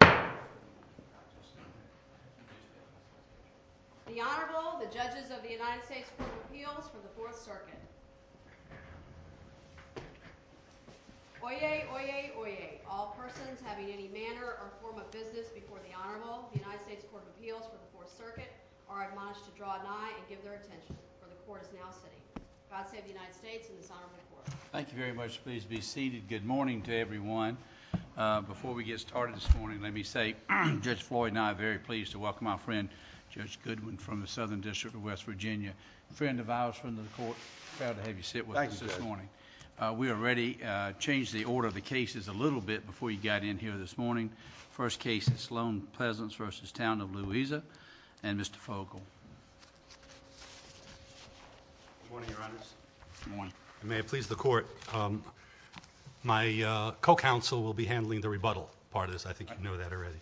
The Honorable, the Judges of the United States Court of Appeals for the Fourth Circuit. Oyez, oyez, oyez, all persons having any manner or form of business before the Honorable, the United States Court of Appeals for the Fourth Circuit, are admonished to draw an eye and give their attention, for the Court is now sitting. God save the United States and this Honorable Court. Thank you very much. Please be seated. Good morning to everyone. Before we get started this morning, let me say Judge Floyd and I are very pleased to welcome our friend, Judge Goodwin, from the Southern District of West Virginia. Friend of ours from the court, proud to have you sit with us this morning. We already changed the order of the cases a little bit before you got in here this morning. First case is Sloan Pleasants v. Town of Louisa and Mr. Fogle. Good morning, Your Honors. Good morning. May it please the Court, my co-counsel will be handling the rebuttal part of this. I think you know that already.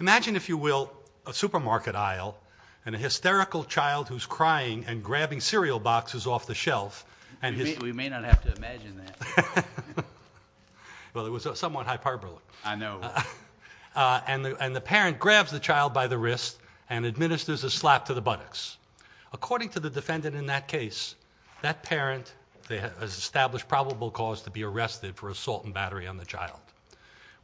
Imagine, if you will, a supermarket aisle and a hysterical child who's crying and grabbing cereal boxes off the shelf. We may not have to imagine that. Well, it was somewhat hyperbolic. I know. And the parent grabs the child by the wrist and administers a slap to the buttocks. According to the defendant in that case, that parent has established probable cause to be arrested for assault and battery on the child.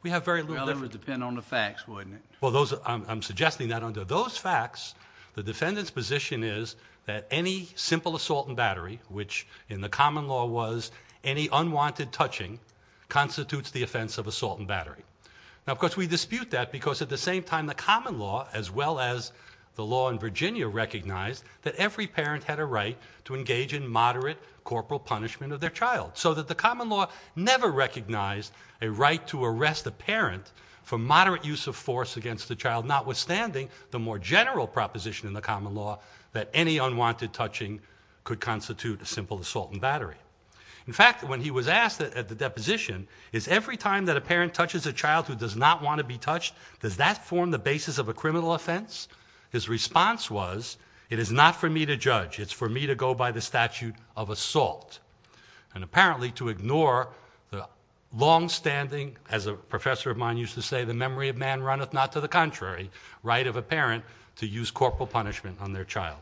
Well, it would depend on the facts, wouldn't it? Well, I'm suggesting that under those facts, the defendant's position is that any simple assault and battery, which in the common law was any unwanted touching, constitutes the offense of assault and battery. Now, of course, we dispute that because at the same time, the common law, as well as the law in Virginia, recognized that every parent had a right to engage in moderate corporal punishment of their child. So that the common law never recognized a right to arrest a parent for moderate use of force against the child, notwithstanding the more general proposition in the common law that any unwanted touching could constitute a simple assault and battery. In fact, when he was asked at the deposition, is every time that a parent touches a child who does not want to be touched, does that form the basis of a criminal offense? His response was, it is not for me to judge. It's for me to go by the statute of assault. And apparently to ignore the longstanding, as a professor of mine used to say, the memory of man runneth not to the contrary, right of a parent to use corporal punishment on their child.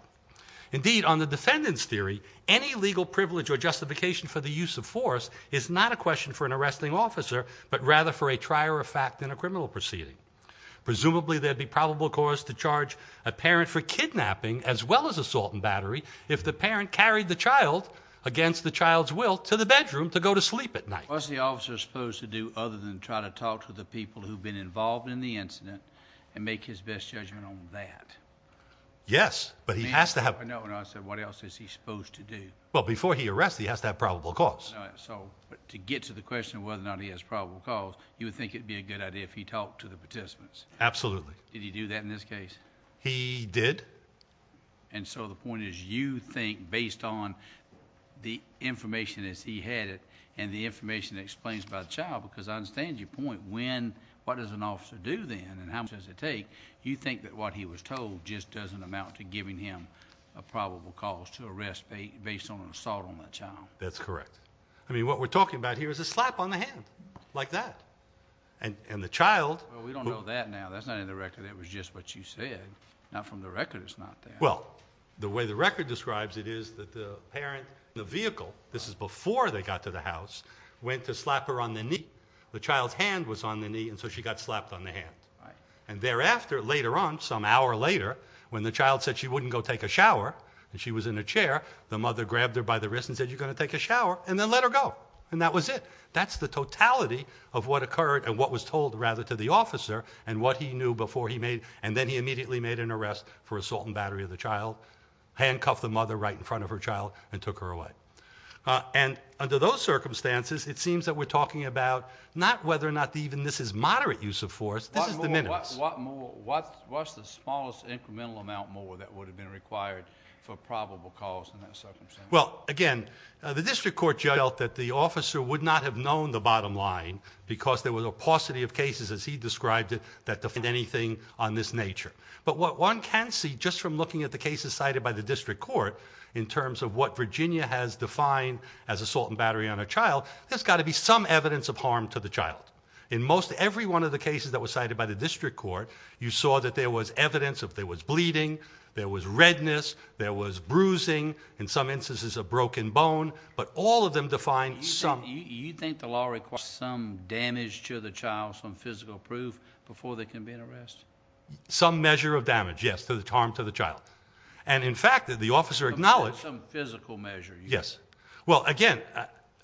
Indeed, on the defendant's theory, any legal privilege or justification for the use of force is not a question for an arresting officer, but rather for a trier of fact in a criminal proceeding. Presumably there'd be probable cause to charge a parent for kidnapping as well as assault and battery if the parent carried the child against the child's will to the bedroom to go to sleep at night. What's the officer supposed to do other than try to talk to the people who've been involved in the incident and make his best judgment on that? Yes, but he has to have... I said, what else is he supposed to do? Well, before he arrests, he has to have probable cause. But to get to the question of whether or not he has probable cause, you would think it'd be a good idea if he talked to the participants? Absolutely. Did he do that in this case? He did. And so the point is you think based on the information as he had it and the information that explains about the child, because I understand your point. What does an officer do then and how much does it take? You think that what he was told just doesn't amount to giving him a probable cause to arrest based on an assault on that child? That's correct. I mean, what we're talking about here is a slap on the hand like that. And the child... Well, we don't know that now. That's not in the record. That was just what you said. Not from the record, it's not there. Well, the way the record describes it is that the parent in the vehicle, this is before they got to the house, went to slap her on the knee. The child's hand was on the knee, and so she got slapped on the hand. And thereafter, later on, some hour later, when the child said she wouldn't go take a shower and she was in a chair, the mother grabbed her by the wrist and said, you're going to take a shower, and then let her go. And that was it. That's the totality of what occurred and what was told, rather, to the officer and what he knew before he made, and then he immediately made an arrest for assault and battery of the child, handcuffed the mother right in front of her child, and took her away. And under those circumstances, it seems that we're talking about not whether or not even this is moderate use of force. This is diminished. What's the smallest incremental amount more that would have been required for probable cause in that circumstance? Well, again, the district court felt that the officer would not have known the bottom line because there was a paucity of cases, as he described it, that defined anything on this nature. But what one can see, just from looking at the cases cited by the district court, in terms of what Virginia has defined as assault and battery on a child, there's got to be some evidence of harm to the child. In most every one of the cases that were cited by the district court, you saw that there was evidence of there was bleeding, there was redness, there was bruising, in some instances a broken bone, but all of them defined some... You think the law requires some damage to the child, some physical proof, before there can be an arrest? Some measure of damage, yes, to the harm to the child. And, in fact, the officer acknowledged... Some physical measure. Yes. Well, again,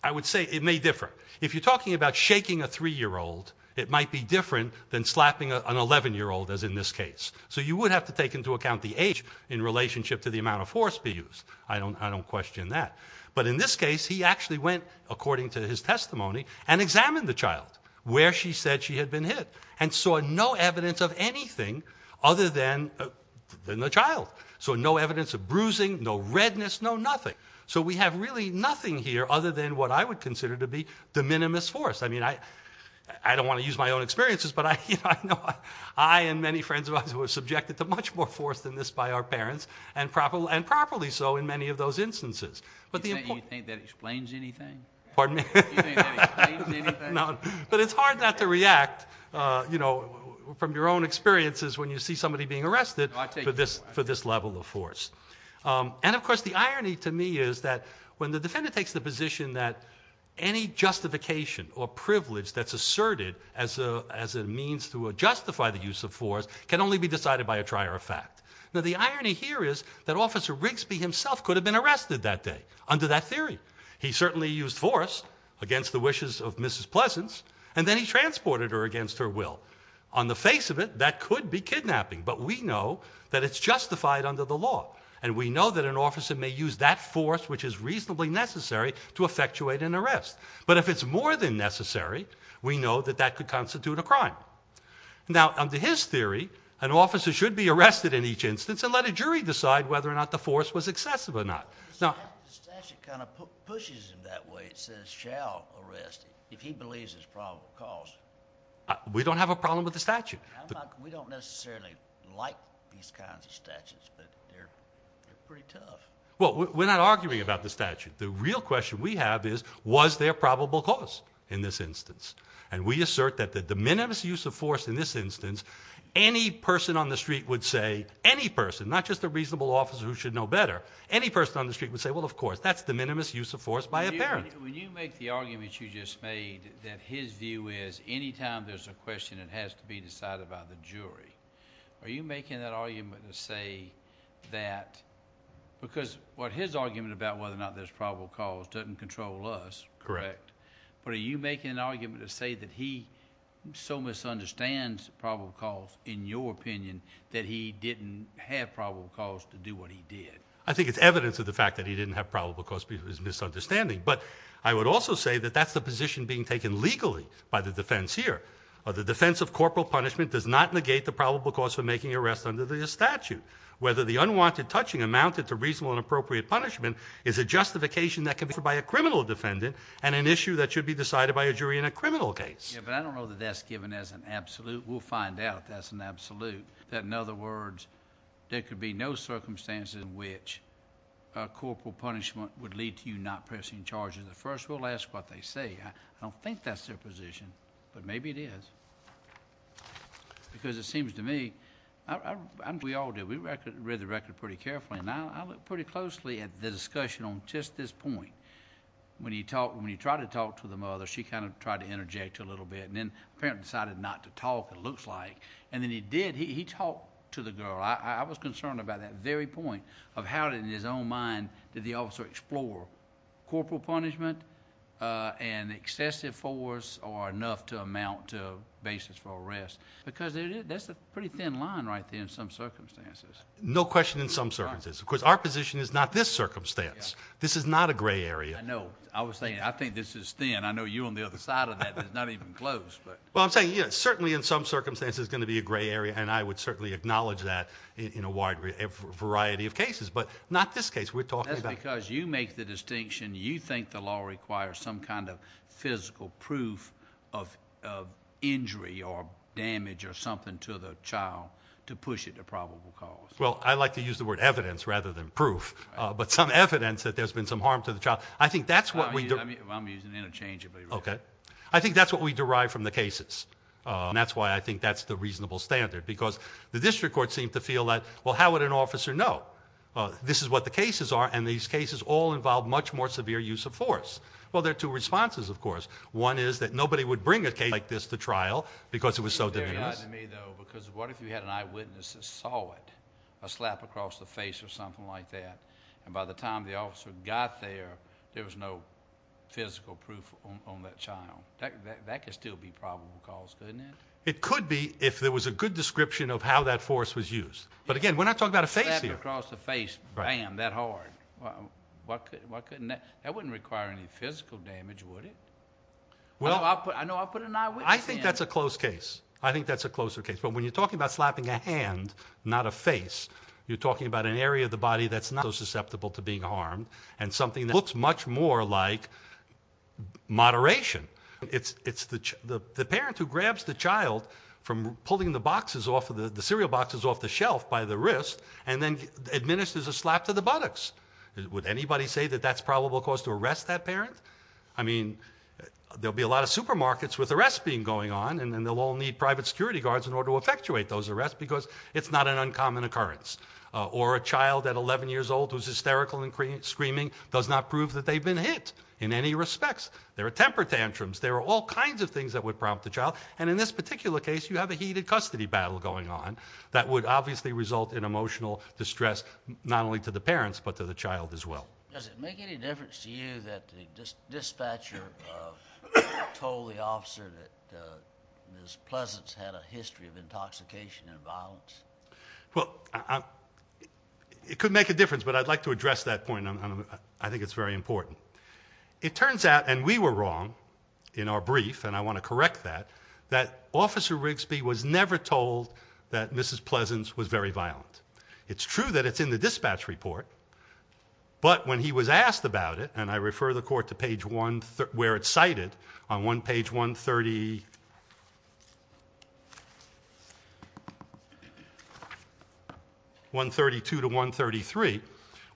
I would say it may differ. If you're talking about shaking a 3-year-old, it might be different than slapping an 11-year-old, as in this case. So you would have to take into account the age in relationship to the amount of force be used. I don't question that. But in this case, he actually went, according to his testimony, and examined the child, where she said she had been hit, and saw no evidence of anything other than the child. So no evidence of bruising, no redness, no nothing. So we have really nothing here other than what I would consider to be de minimis force. I mean, I don't want to use my own experiences, but I know I and many friends of ours were subjected to much more force than this by our parents, and properly so in many of those instances. You think that explains anything? Pardon me? You think that explains anything? No, but it's hard not to react, you know, from your own experiences when you see somebody being arrested for this level of force. And, of course, the irony to me is that when the defender takes the position that any justification or privilege that's asserted as a means to justify the use of force can only be decided by a trier of fact. Now, the irony here is that Officer Rigsby himself could have been arrested that day under that theory. He certainly used force against the wishes of Mrs. Pleasance, and then he transported her against her will. On the face of it, that could be kidnapping, but we know that it's justified under the law, and we know that an officer may use that force, which is reasonably necessary, to effectuate an arrest. But if it's more than necessary, we know that that could constitute a crime. Now, under his theory, an officer should be arrested in each instance and let a jury decide whether or not the force was excessive or not. The statute kind of pushes him that way. It says, shall arrest if he believes it's probable cause. We don't have a problem with the statute. We don't necessarily like these kinds of statutes, but they're pretty tough. Well, we're not arguing about the statute. The real question we have is, was there probable cause in this instance? And we assert that the minimus use of force in this instance, any person on the street would say, any person, not just a reasonable officer who should know better, any person on the street would say, well, of course, that's the minimus use of force by a parent. When you make the argument you just made that his view is that any time there's a question that has to be decided by the jury, are you making that argument to say that, because what his argument about whether or not there's probable cause doesn't control us. Correct. But are you making an argument to say that he so misunderstands probable cause, in your opinion, that he didn't have probable cause to do what he did? I think it's evidence of the fact that he didn't have probable cause because of his misunderstanding. But I would also say that that's the position being taken legally by the defense here. The defense of corporal punishment does not negate the probable cause for making an arrest under the statute. Whether the unwanted touching amounted to reasonable and appropriate punishment is a justification that can be made by a criminal defendant and an issue that should be decided by a jury in a criminal case. Yeah, but I don't know that that's given as an absolute. We'll find out if that's an absolute. That, in other words, there could be no circumstances in which corporal punishment would lead to you not pressing charges. First, we'll ask what they say. I don't think that's their position, but maybe it is. Because it seems to me, and we all do, we read the record pretty carefully, and I look pretty closely at the discussion on just this point. When he tried to talk to the mother, she kind of tried to interject a little bit, and then apparently decided not to talk, it looks like. And then he did, he talked to the girl. I was concerned about that very point of how, in his own mind, did the officer explore corporal punishment and excessive force or enough to amount to basis for arrest. Because that's a pretty thin line right there in some circumstances. No question in some circumstances. Of course, our position is not this circumstance. This is not a gray area. I know. I was saying, I think this is thin. I know you're on the other side of that, but it's not even close. Well, I'm saying certainly in some circumstances it's going to be a gray area, and I would certainly acknowledge that in a wide variety of cases. But not this case we're talking about. That's because you make the distinction you think the law requires some kind of physical proof of injury or damage or something to the child to push it to probable cause. Well, I like to use the word evidence rather than proof. But some evidence that there's been some harm to the child, I think that's what we do. I'm using interchangeably. Okay. I think that's what we derive from the cases, and that's why I think that's the reasonable standard. Because the district court seemed to feel that, well, how would an officer know? This is what the cases are, and these cases all involve much more severe use of force. Well, there are two responses, of course. One is that nobody would bring a case like this to trial because it was so diminished. It's very odd to me, though, because what if you had an eyewitness that saw it, a slap across the face or something like that, and by the time the officer got there, there was no physical proof on that child. That could still be probable cause, couldn't it? It could be if there was a good description of how that force was used. But, again, we're not talking about a face here. Slap across the face, bam, that hard. Why couldn't that? That wouldn't require any physical damage, would it? No, I'll put an eyewitness in. I think that's a close case. I think that's a closer case. But when you're talking about slapping a hand, not a face, you're talking about an area of the body that's not so susceptible to being harmed and something that looks much more like moderation. It's the parent who grabs the child from pulling the cereal boxes off the shelf by the wrist and then administers a slap to the buttocks. Would anybody say that that's probable cause to arrest that parent? I mean, there'll be a lot of supermarkets with arrests being going on, and they'll all need private security guards in order to effectuate those arrests because it's not an uncommon occurrence. Or a child at 11 years old who's hysterical and screaming does not prove that they've been hit in any respects. There are temper tantrums. There are all kinds of things that would prompt the child. And in this particular case, you have a heated custody battle going on that would obviously result in emotional distress not only to the parents but to the child as well. Does it make any difference to you that the dispatcher told the officer that Ms. Pleasance had a history of intoxication and violence? Well, it could make a difference, but I'd like to address that point. I think it's very important. It turns out, and we were wrong in our brief, and I want to correct that, that Officer Rigsby was never told that Mrs. Pleasance was very violent. It's true that it's in the dispatch report, but when he was asked about it, and I refer the court to where it's cited on page 132 to 133,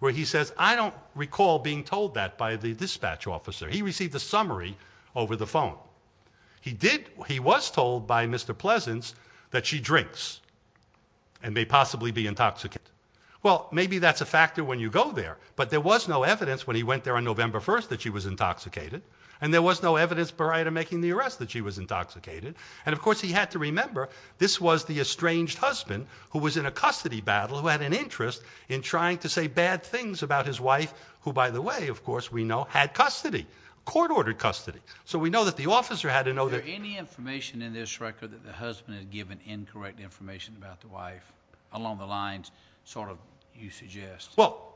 where he says, I don't recall being told that by the dispatch officer. He received a summary over the phone. He was told by Mr. Pleasance that she drinks and may possibly be intoxicated. Well, maybe that's a factor when you go there, but there was no evidence when he went there on November 1st that she was intoxicated, and there was no evidence prior to making the arrest that she was intoxicated. And, of course, he had to remember this was the estranged husband who was in a custody battle who had an interest in trying to say bad things about his wife, who, by the way, of course, we know had custody, court-ordered custody. So we know that the officer had to know that. Is there any information in this record that the husband had given incorrect information about the wife along the lines sort of you suggest? Well,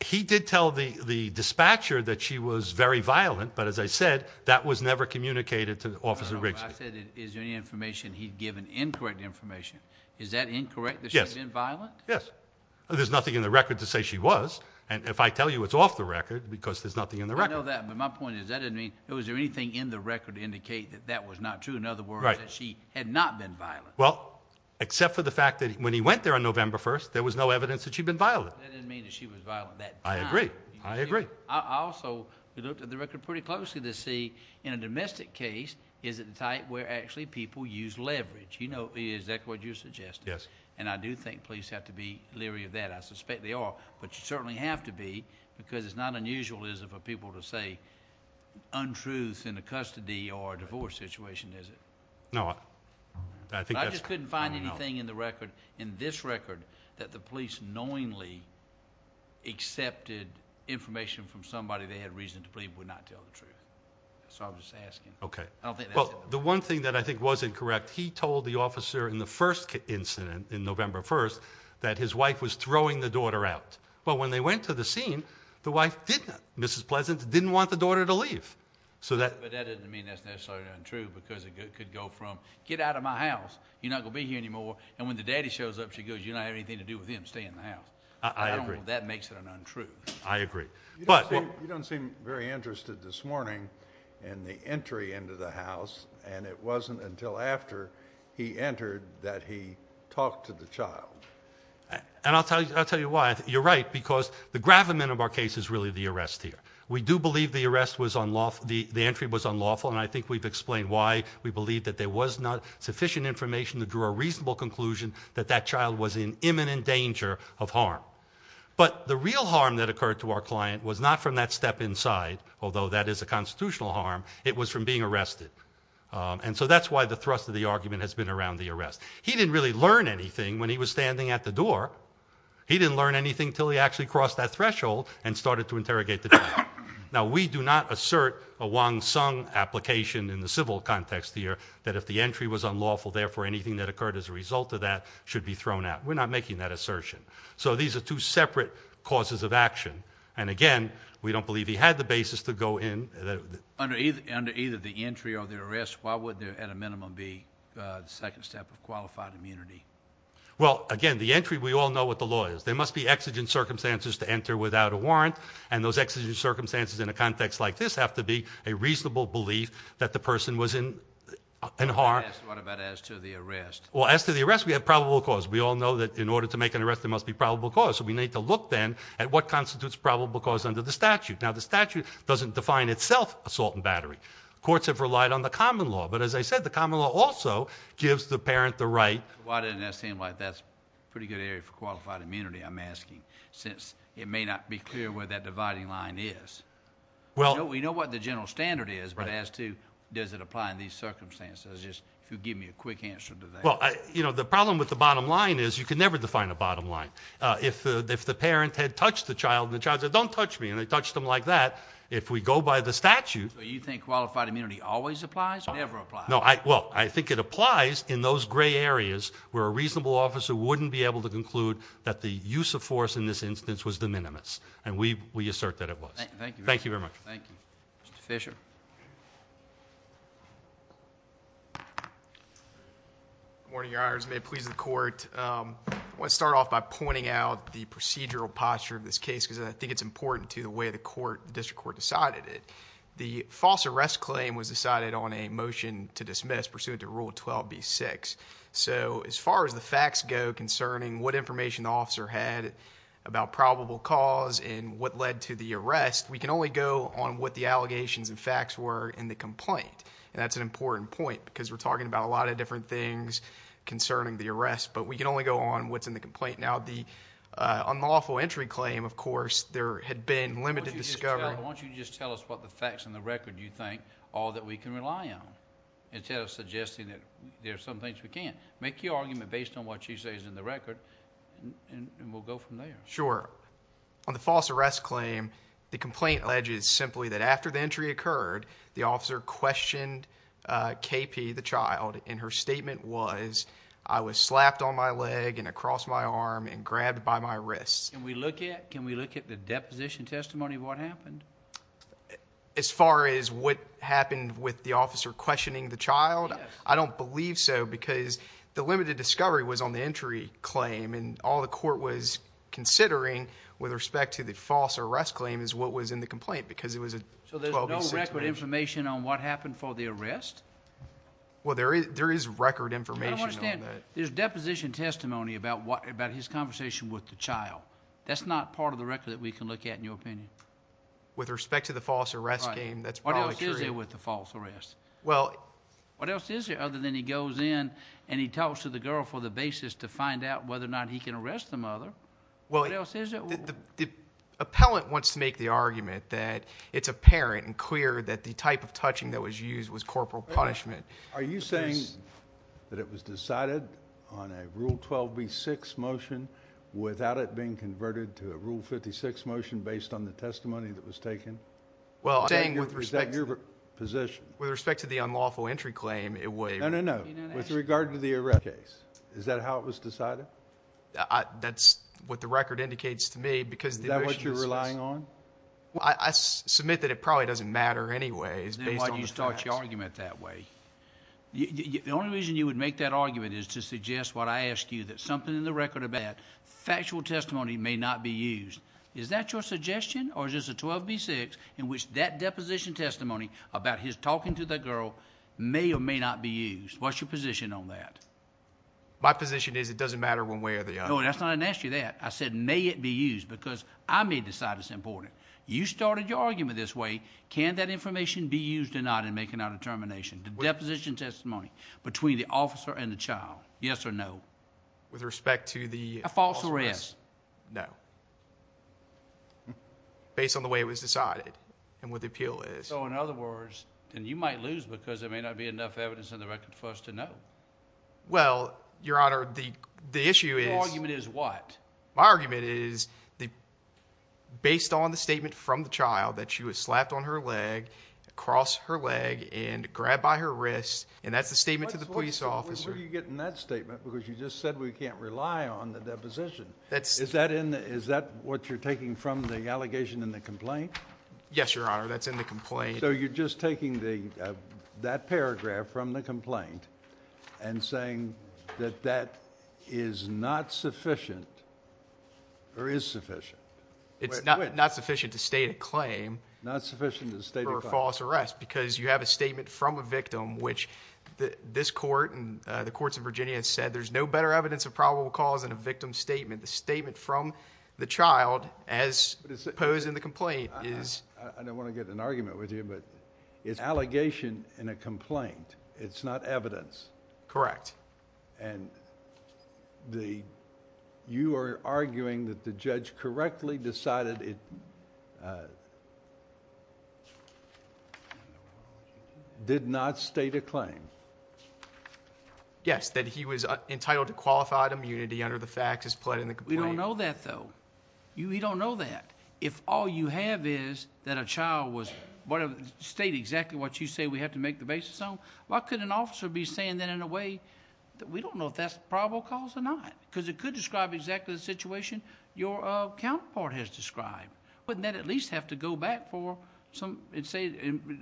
he did tell the dispatcher that she was very violent, but as I said, that was never communicated to Officer Rigsby. I said is there any information he'd given incorrect information. Is that incorrect that she'd been violent? Yes. There's nothing in the record to say she was. And if I tell you it's off the record, because there's nothing in the record. I know that, but my point is that doesn't mean, was there anything in the record to indicate that that was not true? In other words, that she had not been violent. Well, except for the fact that when he went there on November 1st, there was no evidence that she'd been violent. That doesn't mean that she was violent that time. I agree. I agree. I also looked at the record pretty closely to see in a domestic case, is it the type where actually people use leverage? Is that what you're suggesting? Yes. And I do think police have to be leery of that. I suspect they are, but you certainly have to be, because it's not unusual, is it, for people to say untruths in a custody or a divorce situation, is it? No. I think that's... I think that the police knowingly accepted information from somebody they had reason to believe would not tell the truth. So I'm just asking. Okay. I don't think that's... Well, the one thing that I think was incorrect, he told the officer in the first incident, in November 1st, that his wife was throwing the daughter out. Well, when they went to the scene, the wife didn't. Mrs. Pleasant didn't want the daughter to leave. But that doesn't mean that's necessarily untrue, because it could go from, get out of my house, you're not going to be here anymore, and when the daddy shows up, she goes, you don't have anything to do with him staying in the house. I agree. That makes it an untruth. I agree. You don't seem very interested this morning in the entry into the house, and it wasn't until after he entered that he talked to the child. And I'll tell you why. You're right, because the gravamen of our case is really the arrest here. We do believe the entry was unlawful, and I think we've explained why we believe that there was not sufficient information to draw a reasonable conclusion that that child was in imminent danger of harm. But the real harm that occurred to our client was not from that step inside, although that is a constitutional harm, it was from being arrested. And so that's why the thrust of the argument has been around the arrest. He didn't really learn anything when he was standing at the door. He didn't learn anything until he actually crossed that threshold and started to interrogate the child. Now, we do not assert a Wong Sung application in the civil context here that if the entry was unlawful, therefore, anything that occurred as a result of that should be thrown out. We're not making that assertion. So these are two separate causes of action. And, again, we don't believe he had the basis to go in. Under either the entry or the arrest, why would there at a minimum be the second step of qualified immunity? Well, again, the entry, we all know what the law is. There must be exigent circumstances to enter without a warrant, and those exigent circumstances in a context like this have to be a What about as to the arrest? Well, as to the arrest, we have probable cause. We all know that in order to make an arrest, there must be probable cause. So we need to look then at what constitutes probable cause under the statute. Now, the statute doesn't define itself assault and battery. Courts have relied on the common law. But, as I said, the common law also gives the parent the right. Why doesn't that seem like that's a pretty good area for qualified immunity, I'm asking, since it may not be clear where that dividing line is. We know what the general standard is, but as to does it apply in these circumstances, if you'll give me a quick answer to that. Well, the problem with the bottom line is you can never define a bottom line. If the parent had touched the child and the child said, don't touch me, and they touched him like that, if we go by the statute... So you think qualified immunity always applies or never applies? No, well, I think it applies in those gray areas where a reasonable officer wouldn't be able to conclude that the use of force in this instance was de minimis, and we assert that it was. Thank you. Thank you very much. Thank you. Mr. Fisher? Good morning, Your Honors. May it please the Court. I want to start off by pointing out the procedural posture of this case because I think it's important to the way the District Court decided it. The false arrest claim was decided on a motion to dismiss, pursuant to Rule 12b-6. So as far as the facts go concerning what information the officer had about probable cause and what led to the arrest, we can only go on what the allegations and facts were in the complaint, and that's an important point because we're talking about a lot of different things concerning the arrest, but we can only go on what's in the complaint. Now, the unlawful entry claim, of course, there had been limited discovery... Why don't you just tell us what the facts and the record you think are that we can rely on instead of suggesting that there are some things we can't. Make your argument based on what you say is in the record, and we'll go from there. Sure. On the false arrest claim, the complaint alleges simply that after the entry occurred, the officer questioned KP, the child, and her statement was, I was slapped on my leg and across my arm and grabbed by my wrists. Can we look at the deposition testimony of what happened? As far as what happened with the officer questioning the child, I don't believe so because the limited discovery was on the entry claim and all the court was considering with respect to the false arrest claim is what was in the complaint because it was a... So there's no record information on what happened for the arrest? Well, there is record information on that. I don't understand. There's deposition testimony about his conversation with the child. That's not part of the record that we can look at in your opinion. With respect to the false arrest claim, that's probably true. What else is there with the false arrest? Well... What else is there other than he goes in and he talks to the girl for the basis to find out whether or not he can arrest the mother? What else is there? The appellant wants to make the argument that it's apparent and clear that the type of touching that was used was corporal punishment. Are you saying that it was decided on a Rule 12b-6 motion without it being converted to a Rule 56 motion based on the testimony that was taken? Well, I'm saying with respect... Is that your position? With respect to the unlawful entry claim, it was... No, no, no. With regard to the arrest case, is that how it was decided? That's what the record indicates to me because... Is that what you're relying on? Well, I submit that it probably doesn't matter anyway. It's based on the facts. I didn't know why you started your argument that way. The only reason you would make that argument is to suggest what I asked you, that something in the record about factual testimony may not be used. Is that your suggestion or is this a 12b-6 in which that deposition testimony about his talking to that girl may or may not be used? What's your position on that? My position is it doesn't matter one way or the other. No, that's not an answer to that. I said may it be used because I may decide it's important. You started your argument this way. Can that information be used or not in making our determination? The deposition testimony between the officer and the child, yes or no? With respect to the... A false arrest? No. Based on the way it was decided and what the appeal is. So in other words, and you might lose because there may not be enough evidence in the record for us to know. Well, Your Honor, the issue is... Your argument is what? My argument is based on the statement from the child that she was slapped on her leg, crossed her leg, and grabbed by her wrist, and that's the statement to the police officer. What do you get in that statement because you just said we can't rely on the deposition. Is that what you're taking from the allegation in the complaint? Yes, Your Honor, that's in the complaint. So you're just taking that paragraph from the complaint and saying that that is not sufficient or is sufficient. It's not sufficient to state a claim for a false arrest because you have a statement from a victim, which this court and the courts of Virginia said there's no better evidence of probable cause than a victim's statement. The statement from the child as posed in the complaint is... I don't want to get in an argument with you, but it's an allegation in a complaint. It's not evidence. Correct. And you are arguing that the judge correctly decided it did not state a claim. Yes, that he was entitled to qualified immunity under the facts as pled in the complaint. We don't know that, though. We don't know that. If all you have is that a child was... state exactly what you say we have to make the basis on, why couldn't an officer be saying that in a way that we don't know if that's probable cause or not? Because it could describe exactly the situation your counterpart has described. The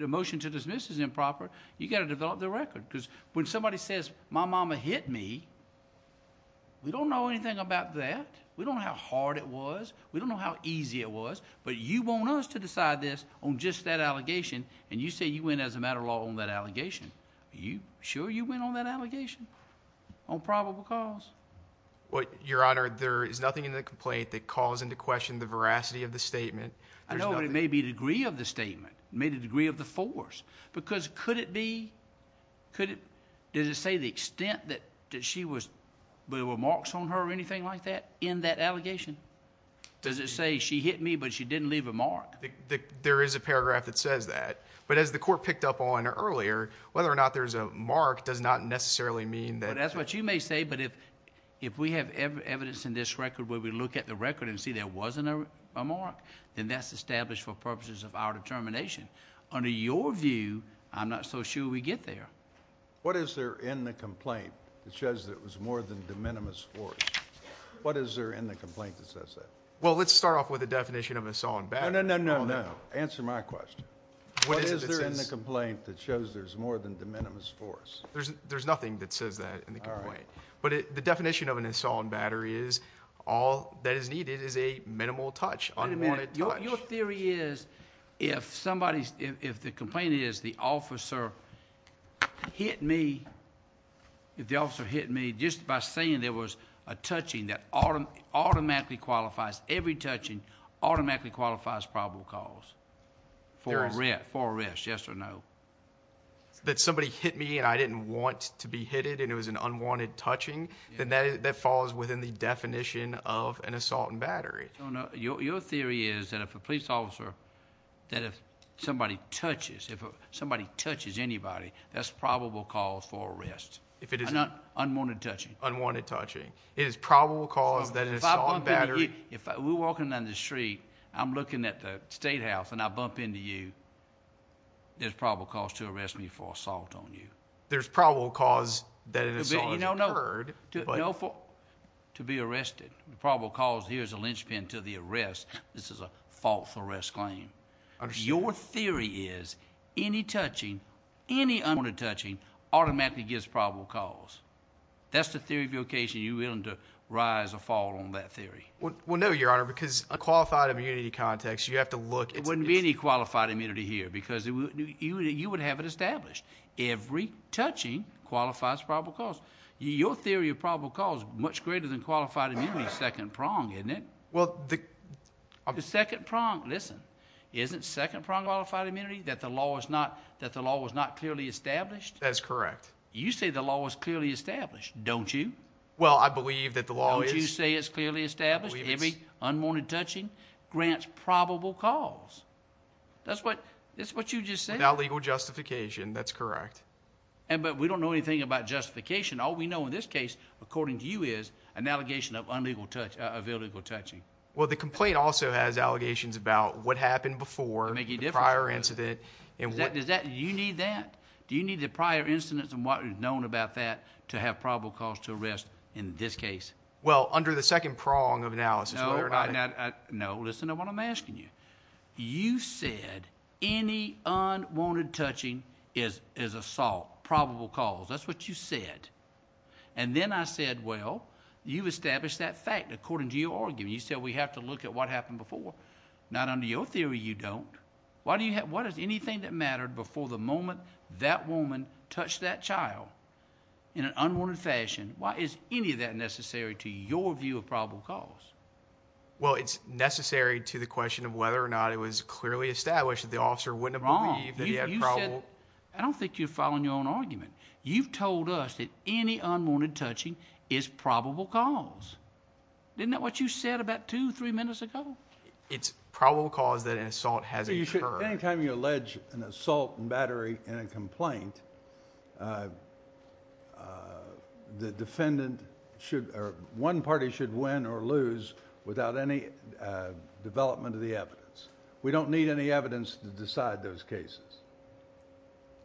motion to dismiss is improper. You've got to develop the record because when somebody says, my mama hit me, we don't know anything about that. We don't know how hard it was. We don't know how easy it was. But you want us to decide this on just that allegation, and you say you went as a matter of law on that allegation. Are you sure you went on that allegation on probable cause? Your Honor, there is nothing in the complaint that calls into question the veracity of the statement. I know there may be a degree of the statement, may be a degree of the force, because could it be, could it, does it say the extent that she was, were there marks on her or anything like that in that allegation? Does it say she hit me, but she didn't leave a mark? There is a paragraph that says that. But as the court picked up on earlier, whether or not there's a mark does not necessarily mean that... That's what you may say, but if we have evidence in this record where we look at the record and see there wasn't a mark, then that's established for purposes of our determination. Under your view, I'm not so sure we get there. What is there in the complaint that shows that it was more than de minimis force? What is there in the complaint that says that? Well, let's start off with the definition of an assault on battery. No, no, no, no, no. Answer my question. What is there in the complaint that shows there's more than de minimis force? There's nothing that says that in the complaint. But the definition of an assault on battery is all that is needed is a minimal touch, unwanted touch. Your theory is if somebody's... if the complaint is the officer hit me, if the officer hit me just by saying there was a touching that automatically qualifies... every touching automatically qualifies probable cause for arrest, yes or no? That somebody hit me and I didn't want to be hit and it was an unwanted touching, then that falls within the definition of an assault on battery. Your theory is that if a police officer... that if somebody touches... if somebody touches anybody, that's probable cause for arrest. If it is... Unwanted touching. Unwanted touching. It is probable cause that an assault on battery... If we're walking down the street, I'm looking at the statehouse and I bump into you, there's probable cause to arrest me for assault on you. There's probable cause that an assault has occurred, but... No... to be arrested. Probable cause, here's a linchpin to the arrest. This is a false arrest claim. I understand. Your theory is any touching, any unwanted touching, automatically gives probable cause. That's the theory of your case and you're willing to rise or fall on that theory. Well, no, Your Honor, because a qualified immunity context, you have to look... There wouldn't be any qualified immunity here because you would have it established. Every touching qualifies probable cause. Your theory of probable cause is much greater than qualified immunity, second prong, isn't it? Well, the... The second prong, listen, isn't second prong qualified immunity that the law is not clearly established? That is correct. You say the law is clearly established, don't you? Well, I believe that the law is... The law is established. Every unwanted touching grants probable cause. That's what you just said. Without legal justification, that's correct. But we don't know anything about justification. All we know in this case, according to you, is an allegation of illegal touching. Well, the complaint also has allegations about what happened before... To make a difference... The prior incident... Do you need that? Do you need the prior incidents and what is known about that to have probable cause to arrest in this case? Well, under the second prong of analysis... No, listen to what I'm asking you. You said any unwanted touching is assault, probable cause. That's what you said. And then I said, well, you established that fact according to your argument. You said we have to look at what happened before. Not under your theory, you don't. Why does anything that mattered before the moment that woman touched that child in an unwanted fashion... Why is any of that necessary to your view of probable cause? Well, it's necessary to the question of whether or not it was clearly established that the officer wouldn't have believed...... that he had probable... You said... I don't think you're following your own argument. You've told us that any unwanted touching is probable cause. Isn't that what you said about two, three minutes ago? It's probable cause that an assault has occurred. Well, you should... any time you allege an assault and battery in a complaint... the defendant should... or one party should win or lose without any development of the evidence. We don't need any evidence to decide those cases.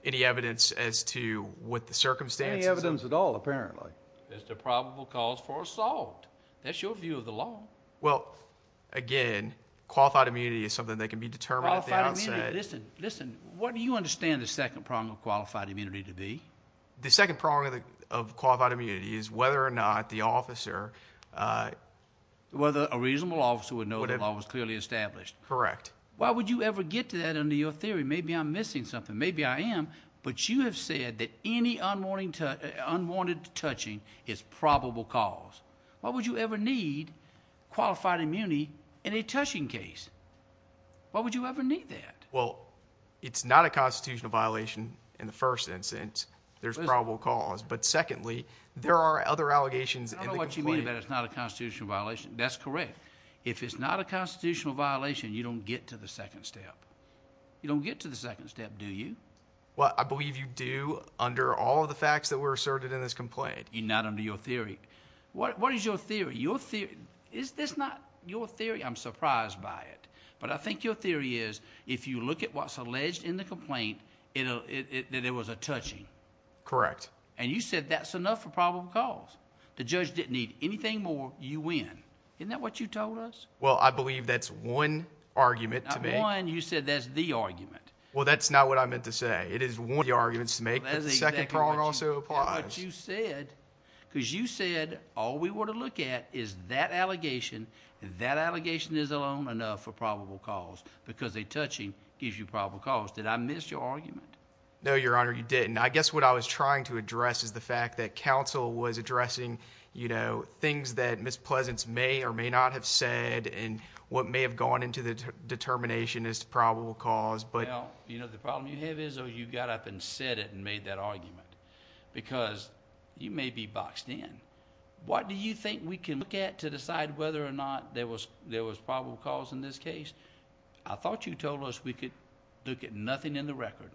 Any evidence as to what the circumstances... Any evidence at all, apparently. It's the probable cause for assault. That's your view of the law. Well, again, qualified immunity is something that can be determined at the outset. Qualified immunity. Listen. Listen. What do you understand the second prong of qualified immunity to be? The second prong of qualified immunity is whether or not the officer... Whether a reasonable officer would know the law was clearly established. Correct. Why would you ever get to that under your theory? Maybe I'm missing something. Maybe I am. But you have said that any unwanted touching is probable cause. Why would you ever need qualified immunity in a touching case? Why would you ever need that? Well, it's not a constitutional violation in the first instance. There's probable cause. But secondly, there are other allegations in the complaint... I don't know what you mean by it's not a constitutional violation. That's correct. If it's not a constitutional violation, you don't get to the second step. You don't get to the second step, do you? Well, I believe you do under all of the facts that were asserted in this complaint. Not under your theory. What is your theory? Is this not your theory? I'm surprised by it. But I think your theory is, if you look at what's alleged in the complaint, that it was a touching. Correct. And you said that's enough for probable cause. The judge didn't need anything more. You win. Isn't that what you told us? Well, I believe that's one argument to make. Not one. You said that's the argument. Well, that's not what I meant to say. It is one of the arguments to make. But the second prong also applies. But you said, because you said all we want to look at is that allegation, and that allegation is alone enough for probable cause, because a touching gives you probable cause. Did I miss your argument? No, Your Honor, you didn't. I guess what I was trying to address is the fact that counsel was addressing, you know, things that Ms. Pleasance may or may not have said, and what may have gone into the determination as to probable cause. Well, you know, the problem you have is you got up and said it and made that argument. Because you may be boxed in. What do you think we can look at to decide whether or not there was probable cause in this case? I thought you told us we could look at nothing in the record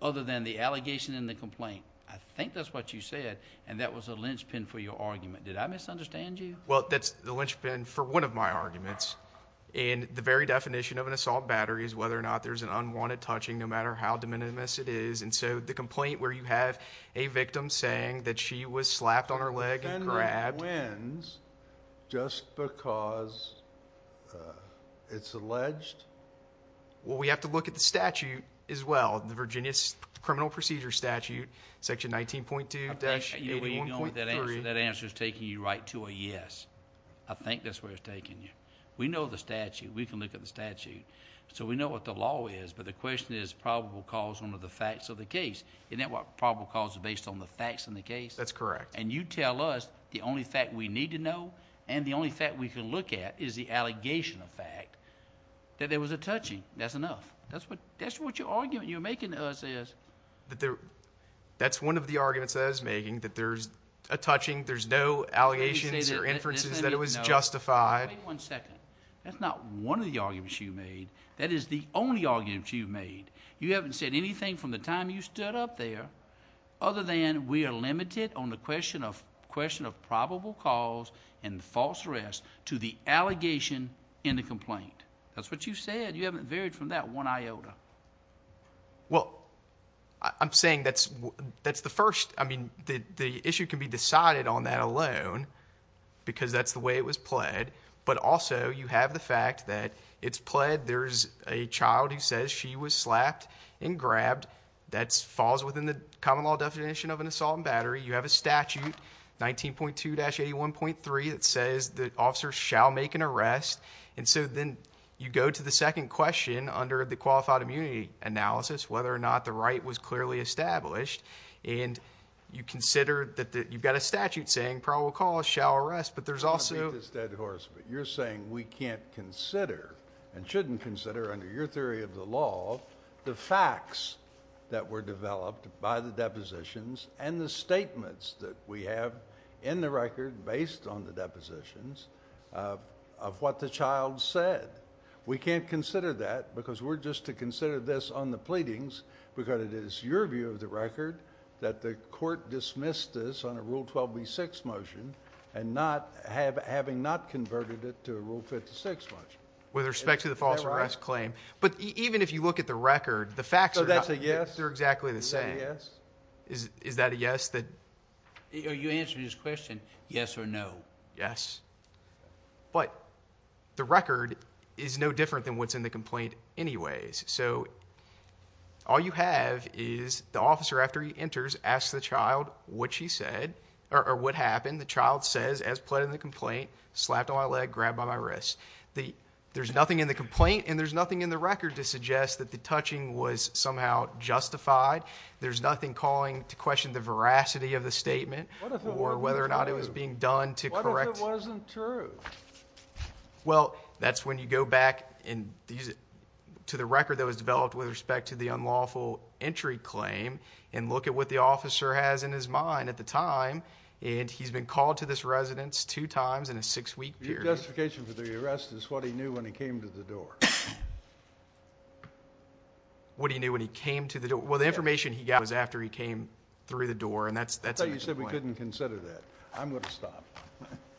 other than the allegation and the complaint. I think that's what you said, and that was a linchpin for your argument. Did I misunderstand you? Well, that's the linchpin for one of my arguments. And the very definition of an assault battery is whether or not there's an unwanted touching, no matter how de minimis it is. And so the complaint where you have a victim saying that she was slapped on her leg and grabbed. So the defendant wins just because it's alleged? Well, we have to look at the statute as well, the Virginia Criminal Procedure Statute, section 19.2-81.3. That answer is taking you right to a yes. I think that's where it's taking you. We know the statute. We can look at the statute. So we know what the law is. But the question is probable cause under the facts of the case. Isn't that what probable cause is based on, the facts of the case? That's correct. And you tell us the only fact we need to know and the only fact we can look at is the allegation of fact that there was a touching. That's enough. That's what your argument you're making to us is. That's one of the arguments I was making, that there's a touching, there's no allegations or inferences that it was justified. Wait one second. That's not one of the arguments you made. That is the only argument you've made. You haven't said anything from the time you stood up there other than we are limited on the question of probable cause and false arrest to the allegation in the complaint. That's what you said. You haven't varied from that one iota. Well, I'm saying that's the first. I mean, the issue can be decided on that alone because that's the way it was pled. But also, you have the fact that it's pled. There's a child who says she was slapped and grabbed. That falls within the common law definition of an assault and battery. You have a statute, 19.2-81.3, that says that officers shall make an arrest. And so then you go to the second question under the qualified immunity analysis, whether or not the right was clearly established. And you consider that you've got a statute saying probable cause shall arrest. You're saying we can't consider and shouldn't consider under your theory of the law the facts that were developed by the depositions and the statements that we have in the record based on the depositions of what the child said. We can't consider that because we're just to consider this on the pleadings because it is your view of the record that the court dismissed this on a Rule 12b-6 motion and not having not converted it to a Rule 56 motion. With respect to the false arrest claim. But even if you look at the record, the facts are not the same. So that's a yes? They're exactly the same. Is that a yes? Are you answering his question, yes or no? Yes. But the record is no different than what's in the complaint anyways. So all you have is the officer, after he enters, asks the child what she said or what happened. The child says, as pled in the complaint, slapped on my leg, grabbed by my wrist. There's nothing in the complaint and there's nothing in the record to suggest that the touching was somehow justified. There's nothing calling to question the veracity of the statement or whether or not it was being done to correct. But what if it wasn't true? Well, that's when you go back to the record that was developed with respect to the unlawful entry claim and look at what the officer has in his mind at the time. And he's been called to this residence two times in a six-week period. Your justification for the arrest is what he knew when he came to the door. What he knew when he came to the door? Well, the information he got was after he came through the door and that's a different point. You shouldn't consider that. I'm going to stop.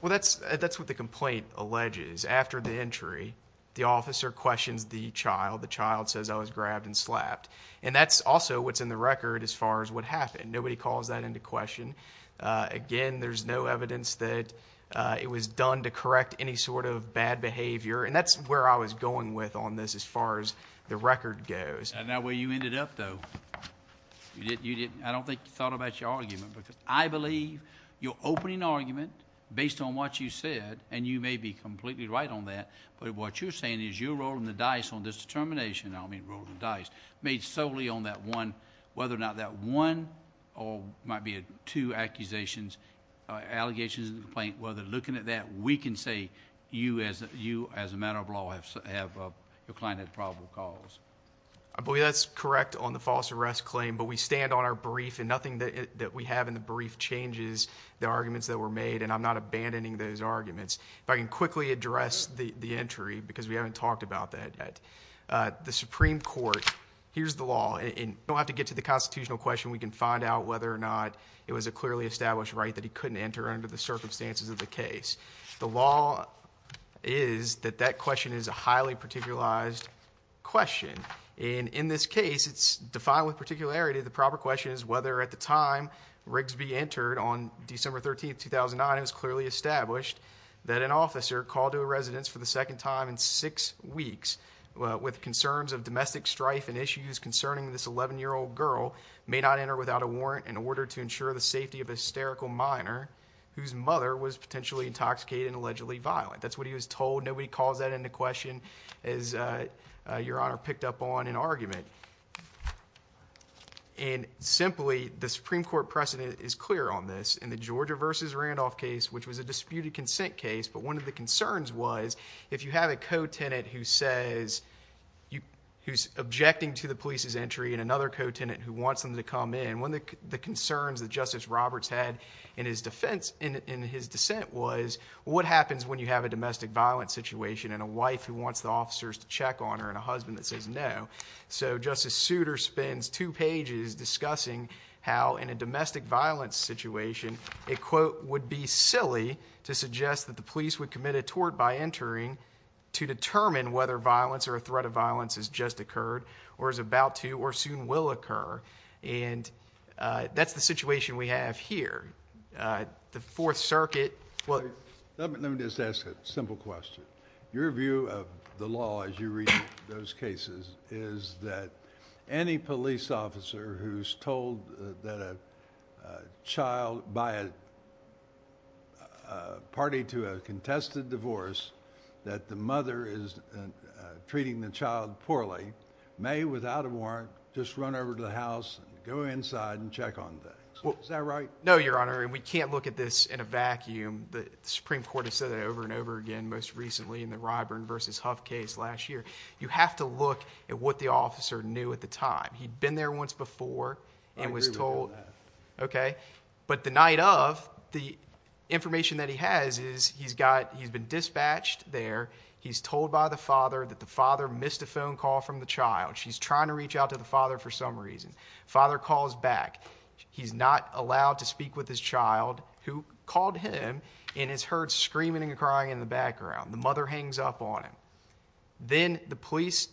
Well, that's what the complaint alleges. After the entry, the officer questions the child. The child says, I was grabbed and slapped. And that's also what's in the record as far as what happened. Nobody calls that into question. Again, there's no evidence that it was done to correct any sort of bad behavior. And that's where I was going with on this as far as the record goes. And that way you ended up, though. I don't think you thought about your argument. Because I believe your opening argument, based on what you said, and you may be completely right on that, but what you're saying is you're rolling the dice on this determination. I don't mean rolling the dice. Made solely on that one, whether or not that one or might be two accusations, allegations of the complaint, whether looking at that, we can say you, as a matter of law, your client had probable cause. I believe that's correct on the false arrest claim. But we stand on our brief. And nothing that we have in the brief changes the arguments that were made. And I'm not abandoning those arguments. If I can quickly address the entry, because we haven't talked about that yet. The Supreme Court, here's the law. And we don't have to get to the constitutional question. We can find out whether or not it was a clearly established right that he couldn't enter under the circumstances of the case. The law is that that question is a highly particularized question. And in this case, it's defined with particularity. The proper question is whether at the time Rigsby entered on December 13, 2009, it was clearly established that an officer called to a residence for the second time in six weeks with concerns of domestic strife and issues concerning this 11-year-old girl may not enter without a warrant in order to ensure the safety of a hysterical minor whose mother was potentially intoxicated and allegedly violent. That's what he was told. Nobody calls that into question as Your Honor picked up on in argument. And simply, the Supreme Court precedent is clear on this. In the Georgia v. Randolph case, which was a disputed consent case, but one of the concerns was if you have a co-tenant who's objecting to the police's entry and another co-tenant who wants them to come in, one of the concerns that Justice Roberts had in his dissent was what happens when you have a domestic violence situation and a wife who wants the officers to check on her and a husband that says no. So Justice Souter spends two pages discussing how in a domestic violence situation a quote would be silly to suggest that the police would commit a tort by entering to determine whether violence or a threat of violence has just occurred or is about to or soon will occur. And that's the situation we have here. The Fourth Circuit. Let me just ask a simple question. Your view of the law as you read those cases is that any police officer who's told that a child by a party to a contested divorce that the mother is treating the child poorly may, without a warrant, just run over to the house and go inside and check on that. Is that right? No, Your Honor, and we can't look at this in a vacuum. The Supreme Court has said that over and over again, most recently in the Ryburn v. Huff case last year. You have to look at what the officer knew at the time. He'd been there once before and was told. I agree with that. Okay. But the night of, the information that he has is he's been dispatched there. He's told by the father that the father missed a phone call from the child. She's trying to reach out to the father for some reason. Father calls back. He's not allowed to speak with his child who called him and is heard screaming and crying in the background. The mother hangs up on him. Then the police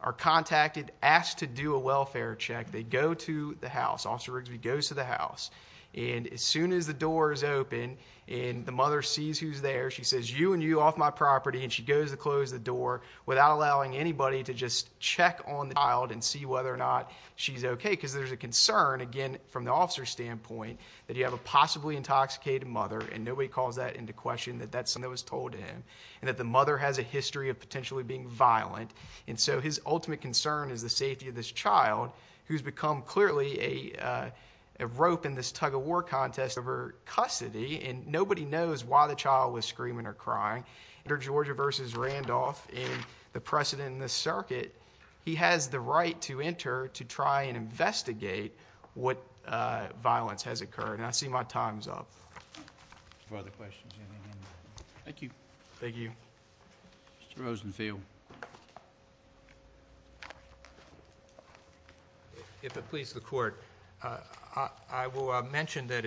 are contacted, asked to do a welfare check. They go to the house. Officer Rigsby goes to the house. And as soon as the door is open and the mother sees who's there, she says, you and you off my property, and she goes to close the door without allowing anybody to just check on the child and see whether or not she's okay. Because there's a concern, again, from the officer's standpoint that you have a possibly intoxicated mother, and nobody calls that into question, that that's something that was told to him, and that the mother has a history of potentially being violent. And so his ultimate concern is the safety of this child, who's become clearly a rope in this tug-of-war contest of her custody. And nobody knows why the child was screaming or crying. Enter Georgia v. Randolph. In the precedent in this circuit, he has the right to enter to try and investigate what violence has occurred. And I see my time's up. If there are other questions, you may end that. Thank you. Thank you. Mr. Rosenfield. If it pleases the Court, I will mention that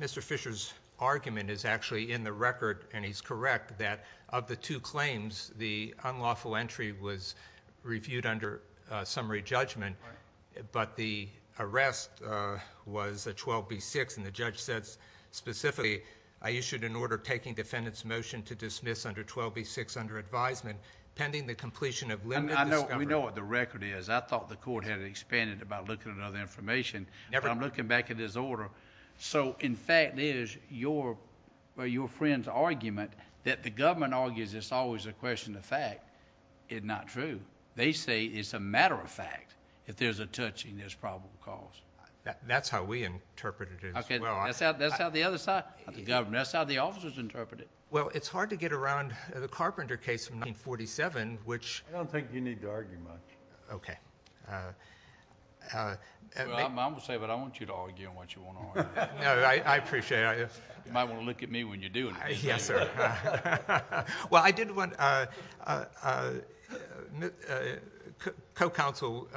Mr. Fisher's argument is actually in the record, and he's correct that of the two claims, the unlawful entry was reviewed under summary judgment. But the arrest was a 12B6, and the judge said specifically, I issued an order taking defendant's motion to dismiss under 12B6 under advisement pending the completion of limited discovery. We know what the record is. I thought the Court had expanded it by looking at other information. But I'm looking back at his order. So, in fact, there's your friend's argument that the government argues it's always a question of fact. It's not true. They say it's a matter of fact. If there's a touching, there's probable cause. That's how we interpret it as well. That's how the other side of the government, that's how the officers interpret it. Well, it's hard to get around the Carpenter case from 1947, which — I don't think you need to argue much. Okay. Well, I'm going to say, but I want you to argue on what you want to argue. No, I appreciate it. You might want to look at me when you're doing it. Yes, sir. Well, I did want — co-counsel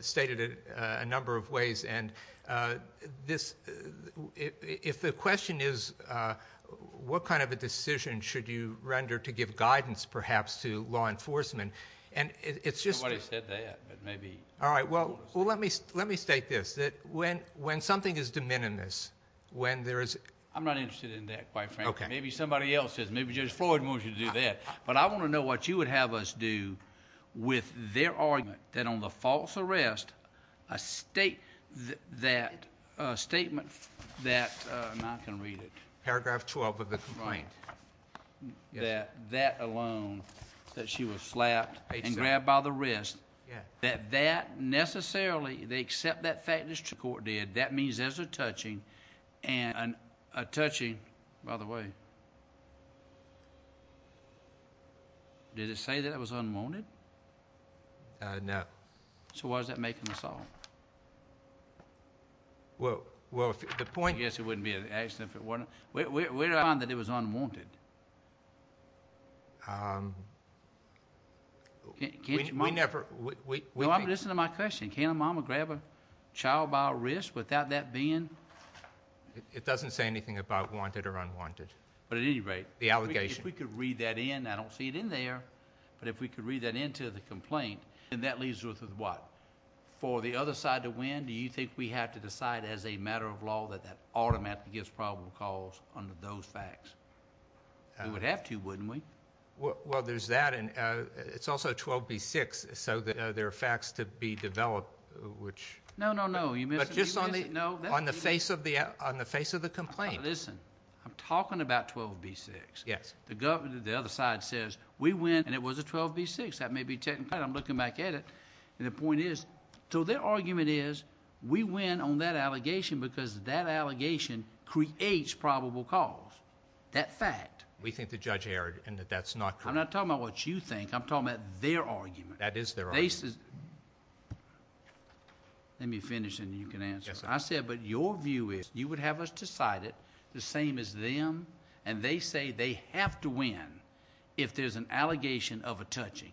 stated it a number of ways, and if the question is what kind of a decision should you render to give guidance, perhaps, to law enforcement, and it's just — All right, well, let me state this. When something is de minimis, when there is — I'm not interested in that, quite frankly. Okay. Maybe somebody else is. Maybe Judge Floyd wants you to do that. But I want to know what you would have us do with their argument that on the false arrest, a statement that — and I can read it. Paragraph 12 of the complaint. Yes. That that alone, that she was slapped and grabbed by the wrist, that that necessarily, they accept that fact as the court did, that means there's a touching, and a touching — by the way, did it say that it was unwanted? No. So why is that making us all — Well, the point — I guess it wouldn't be an accident if it weren't. Where did I find that it was unwanted? We never — Listen to my question. Can a mom grab a child by a wrist without that being — It doesn't say anything about wanted or unwanted. But at any rate — The allegation. If we could read that in, I don't see it in there, but if we could read that into the complaint, then that leaves us with what? For the other side to win? Do you think we have to decide as a matter of law that that argument gives probable cause under those facts? We would have to, wouldn't we? Well, there's that, and it's also 12b-6, so there are facts to be developed, which — No, no, no. But just on the face of the complaint. Listen, I'm talking about 12b-6. Yes. The other side says we win, and it was a 12b-6. That may be technical. I'm looking back at it, and the point is, so their argument is we win on that allegation because that allegation creates probable cause. That fact. We think the judge erred and that that's not correct. I'm not talking about what you think. I'm talking about their argument. That is their argument. Let me finish, and then you can answer. Yes, sir. I said, but your view is you would have us decide it, the same as them, and they say they have to win if there's an allegation of a touching.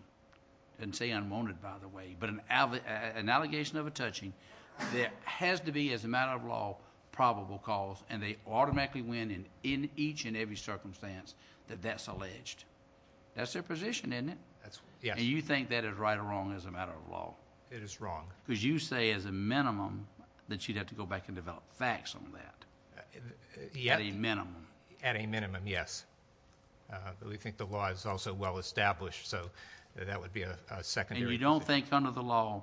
It doesn't say unwanted, by the way, but an allegation of a touching that has to be, as a matter of law, probable cause, and they automatically win in each and every circumstance that that's alleged. That's their position, isn't it? Yes. And you think that is right or wrong as a matter of law? It is wrong. Because you say, as a minimum, that you'd have to go back and develop facts on that. At a minimum. At a minimum, yes. But we think the law is also well established, so that would be a secondary. And you don't think under the law,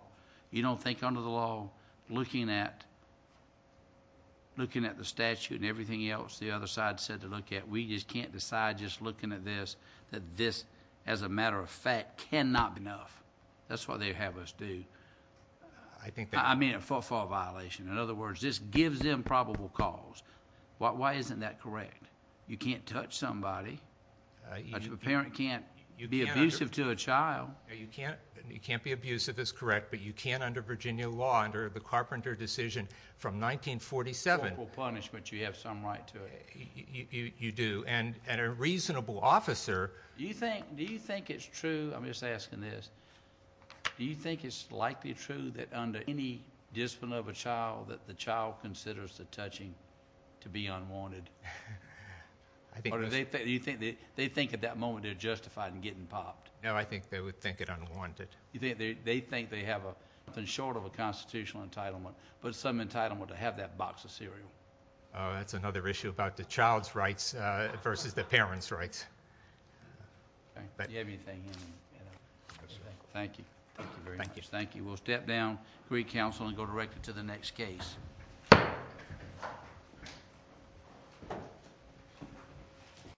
looking at the statute and everything else the other side said to look at, we just can't decide just looking at this, that this, as a matter of fact, cannot be enough. That's why they have us do. I think that... I mean, a footfall violation. In other words, this gives them probable cause. Why isn't that correct? You can't touch somebody. A parent can't be abusive to a child. You can't be abusive, that's correct, but you can't under Virginia law, under the Carpenter decision from 1947... Probable punishment, you have some right to it. You do. And a reasonable officer... Do you think it's true, I'm just asking this, do you think it's likely true that under any discipline of a child that the child considers the touching to be unwanted? I think... Or do you think they think at that moment they're justified in getting popped? No, I think they would think it unwanted. They think they have nothing short of a constitutional entitlement, but some entitlement to have that box of cereal. That's another issue about the child's rights versus the parent's rights. Do you have anything? No, sir. Thank you. Thank you very much. Thank you. Thank you. We'll step down, read counsel, and go directly to the next case.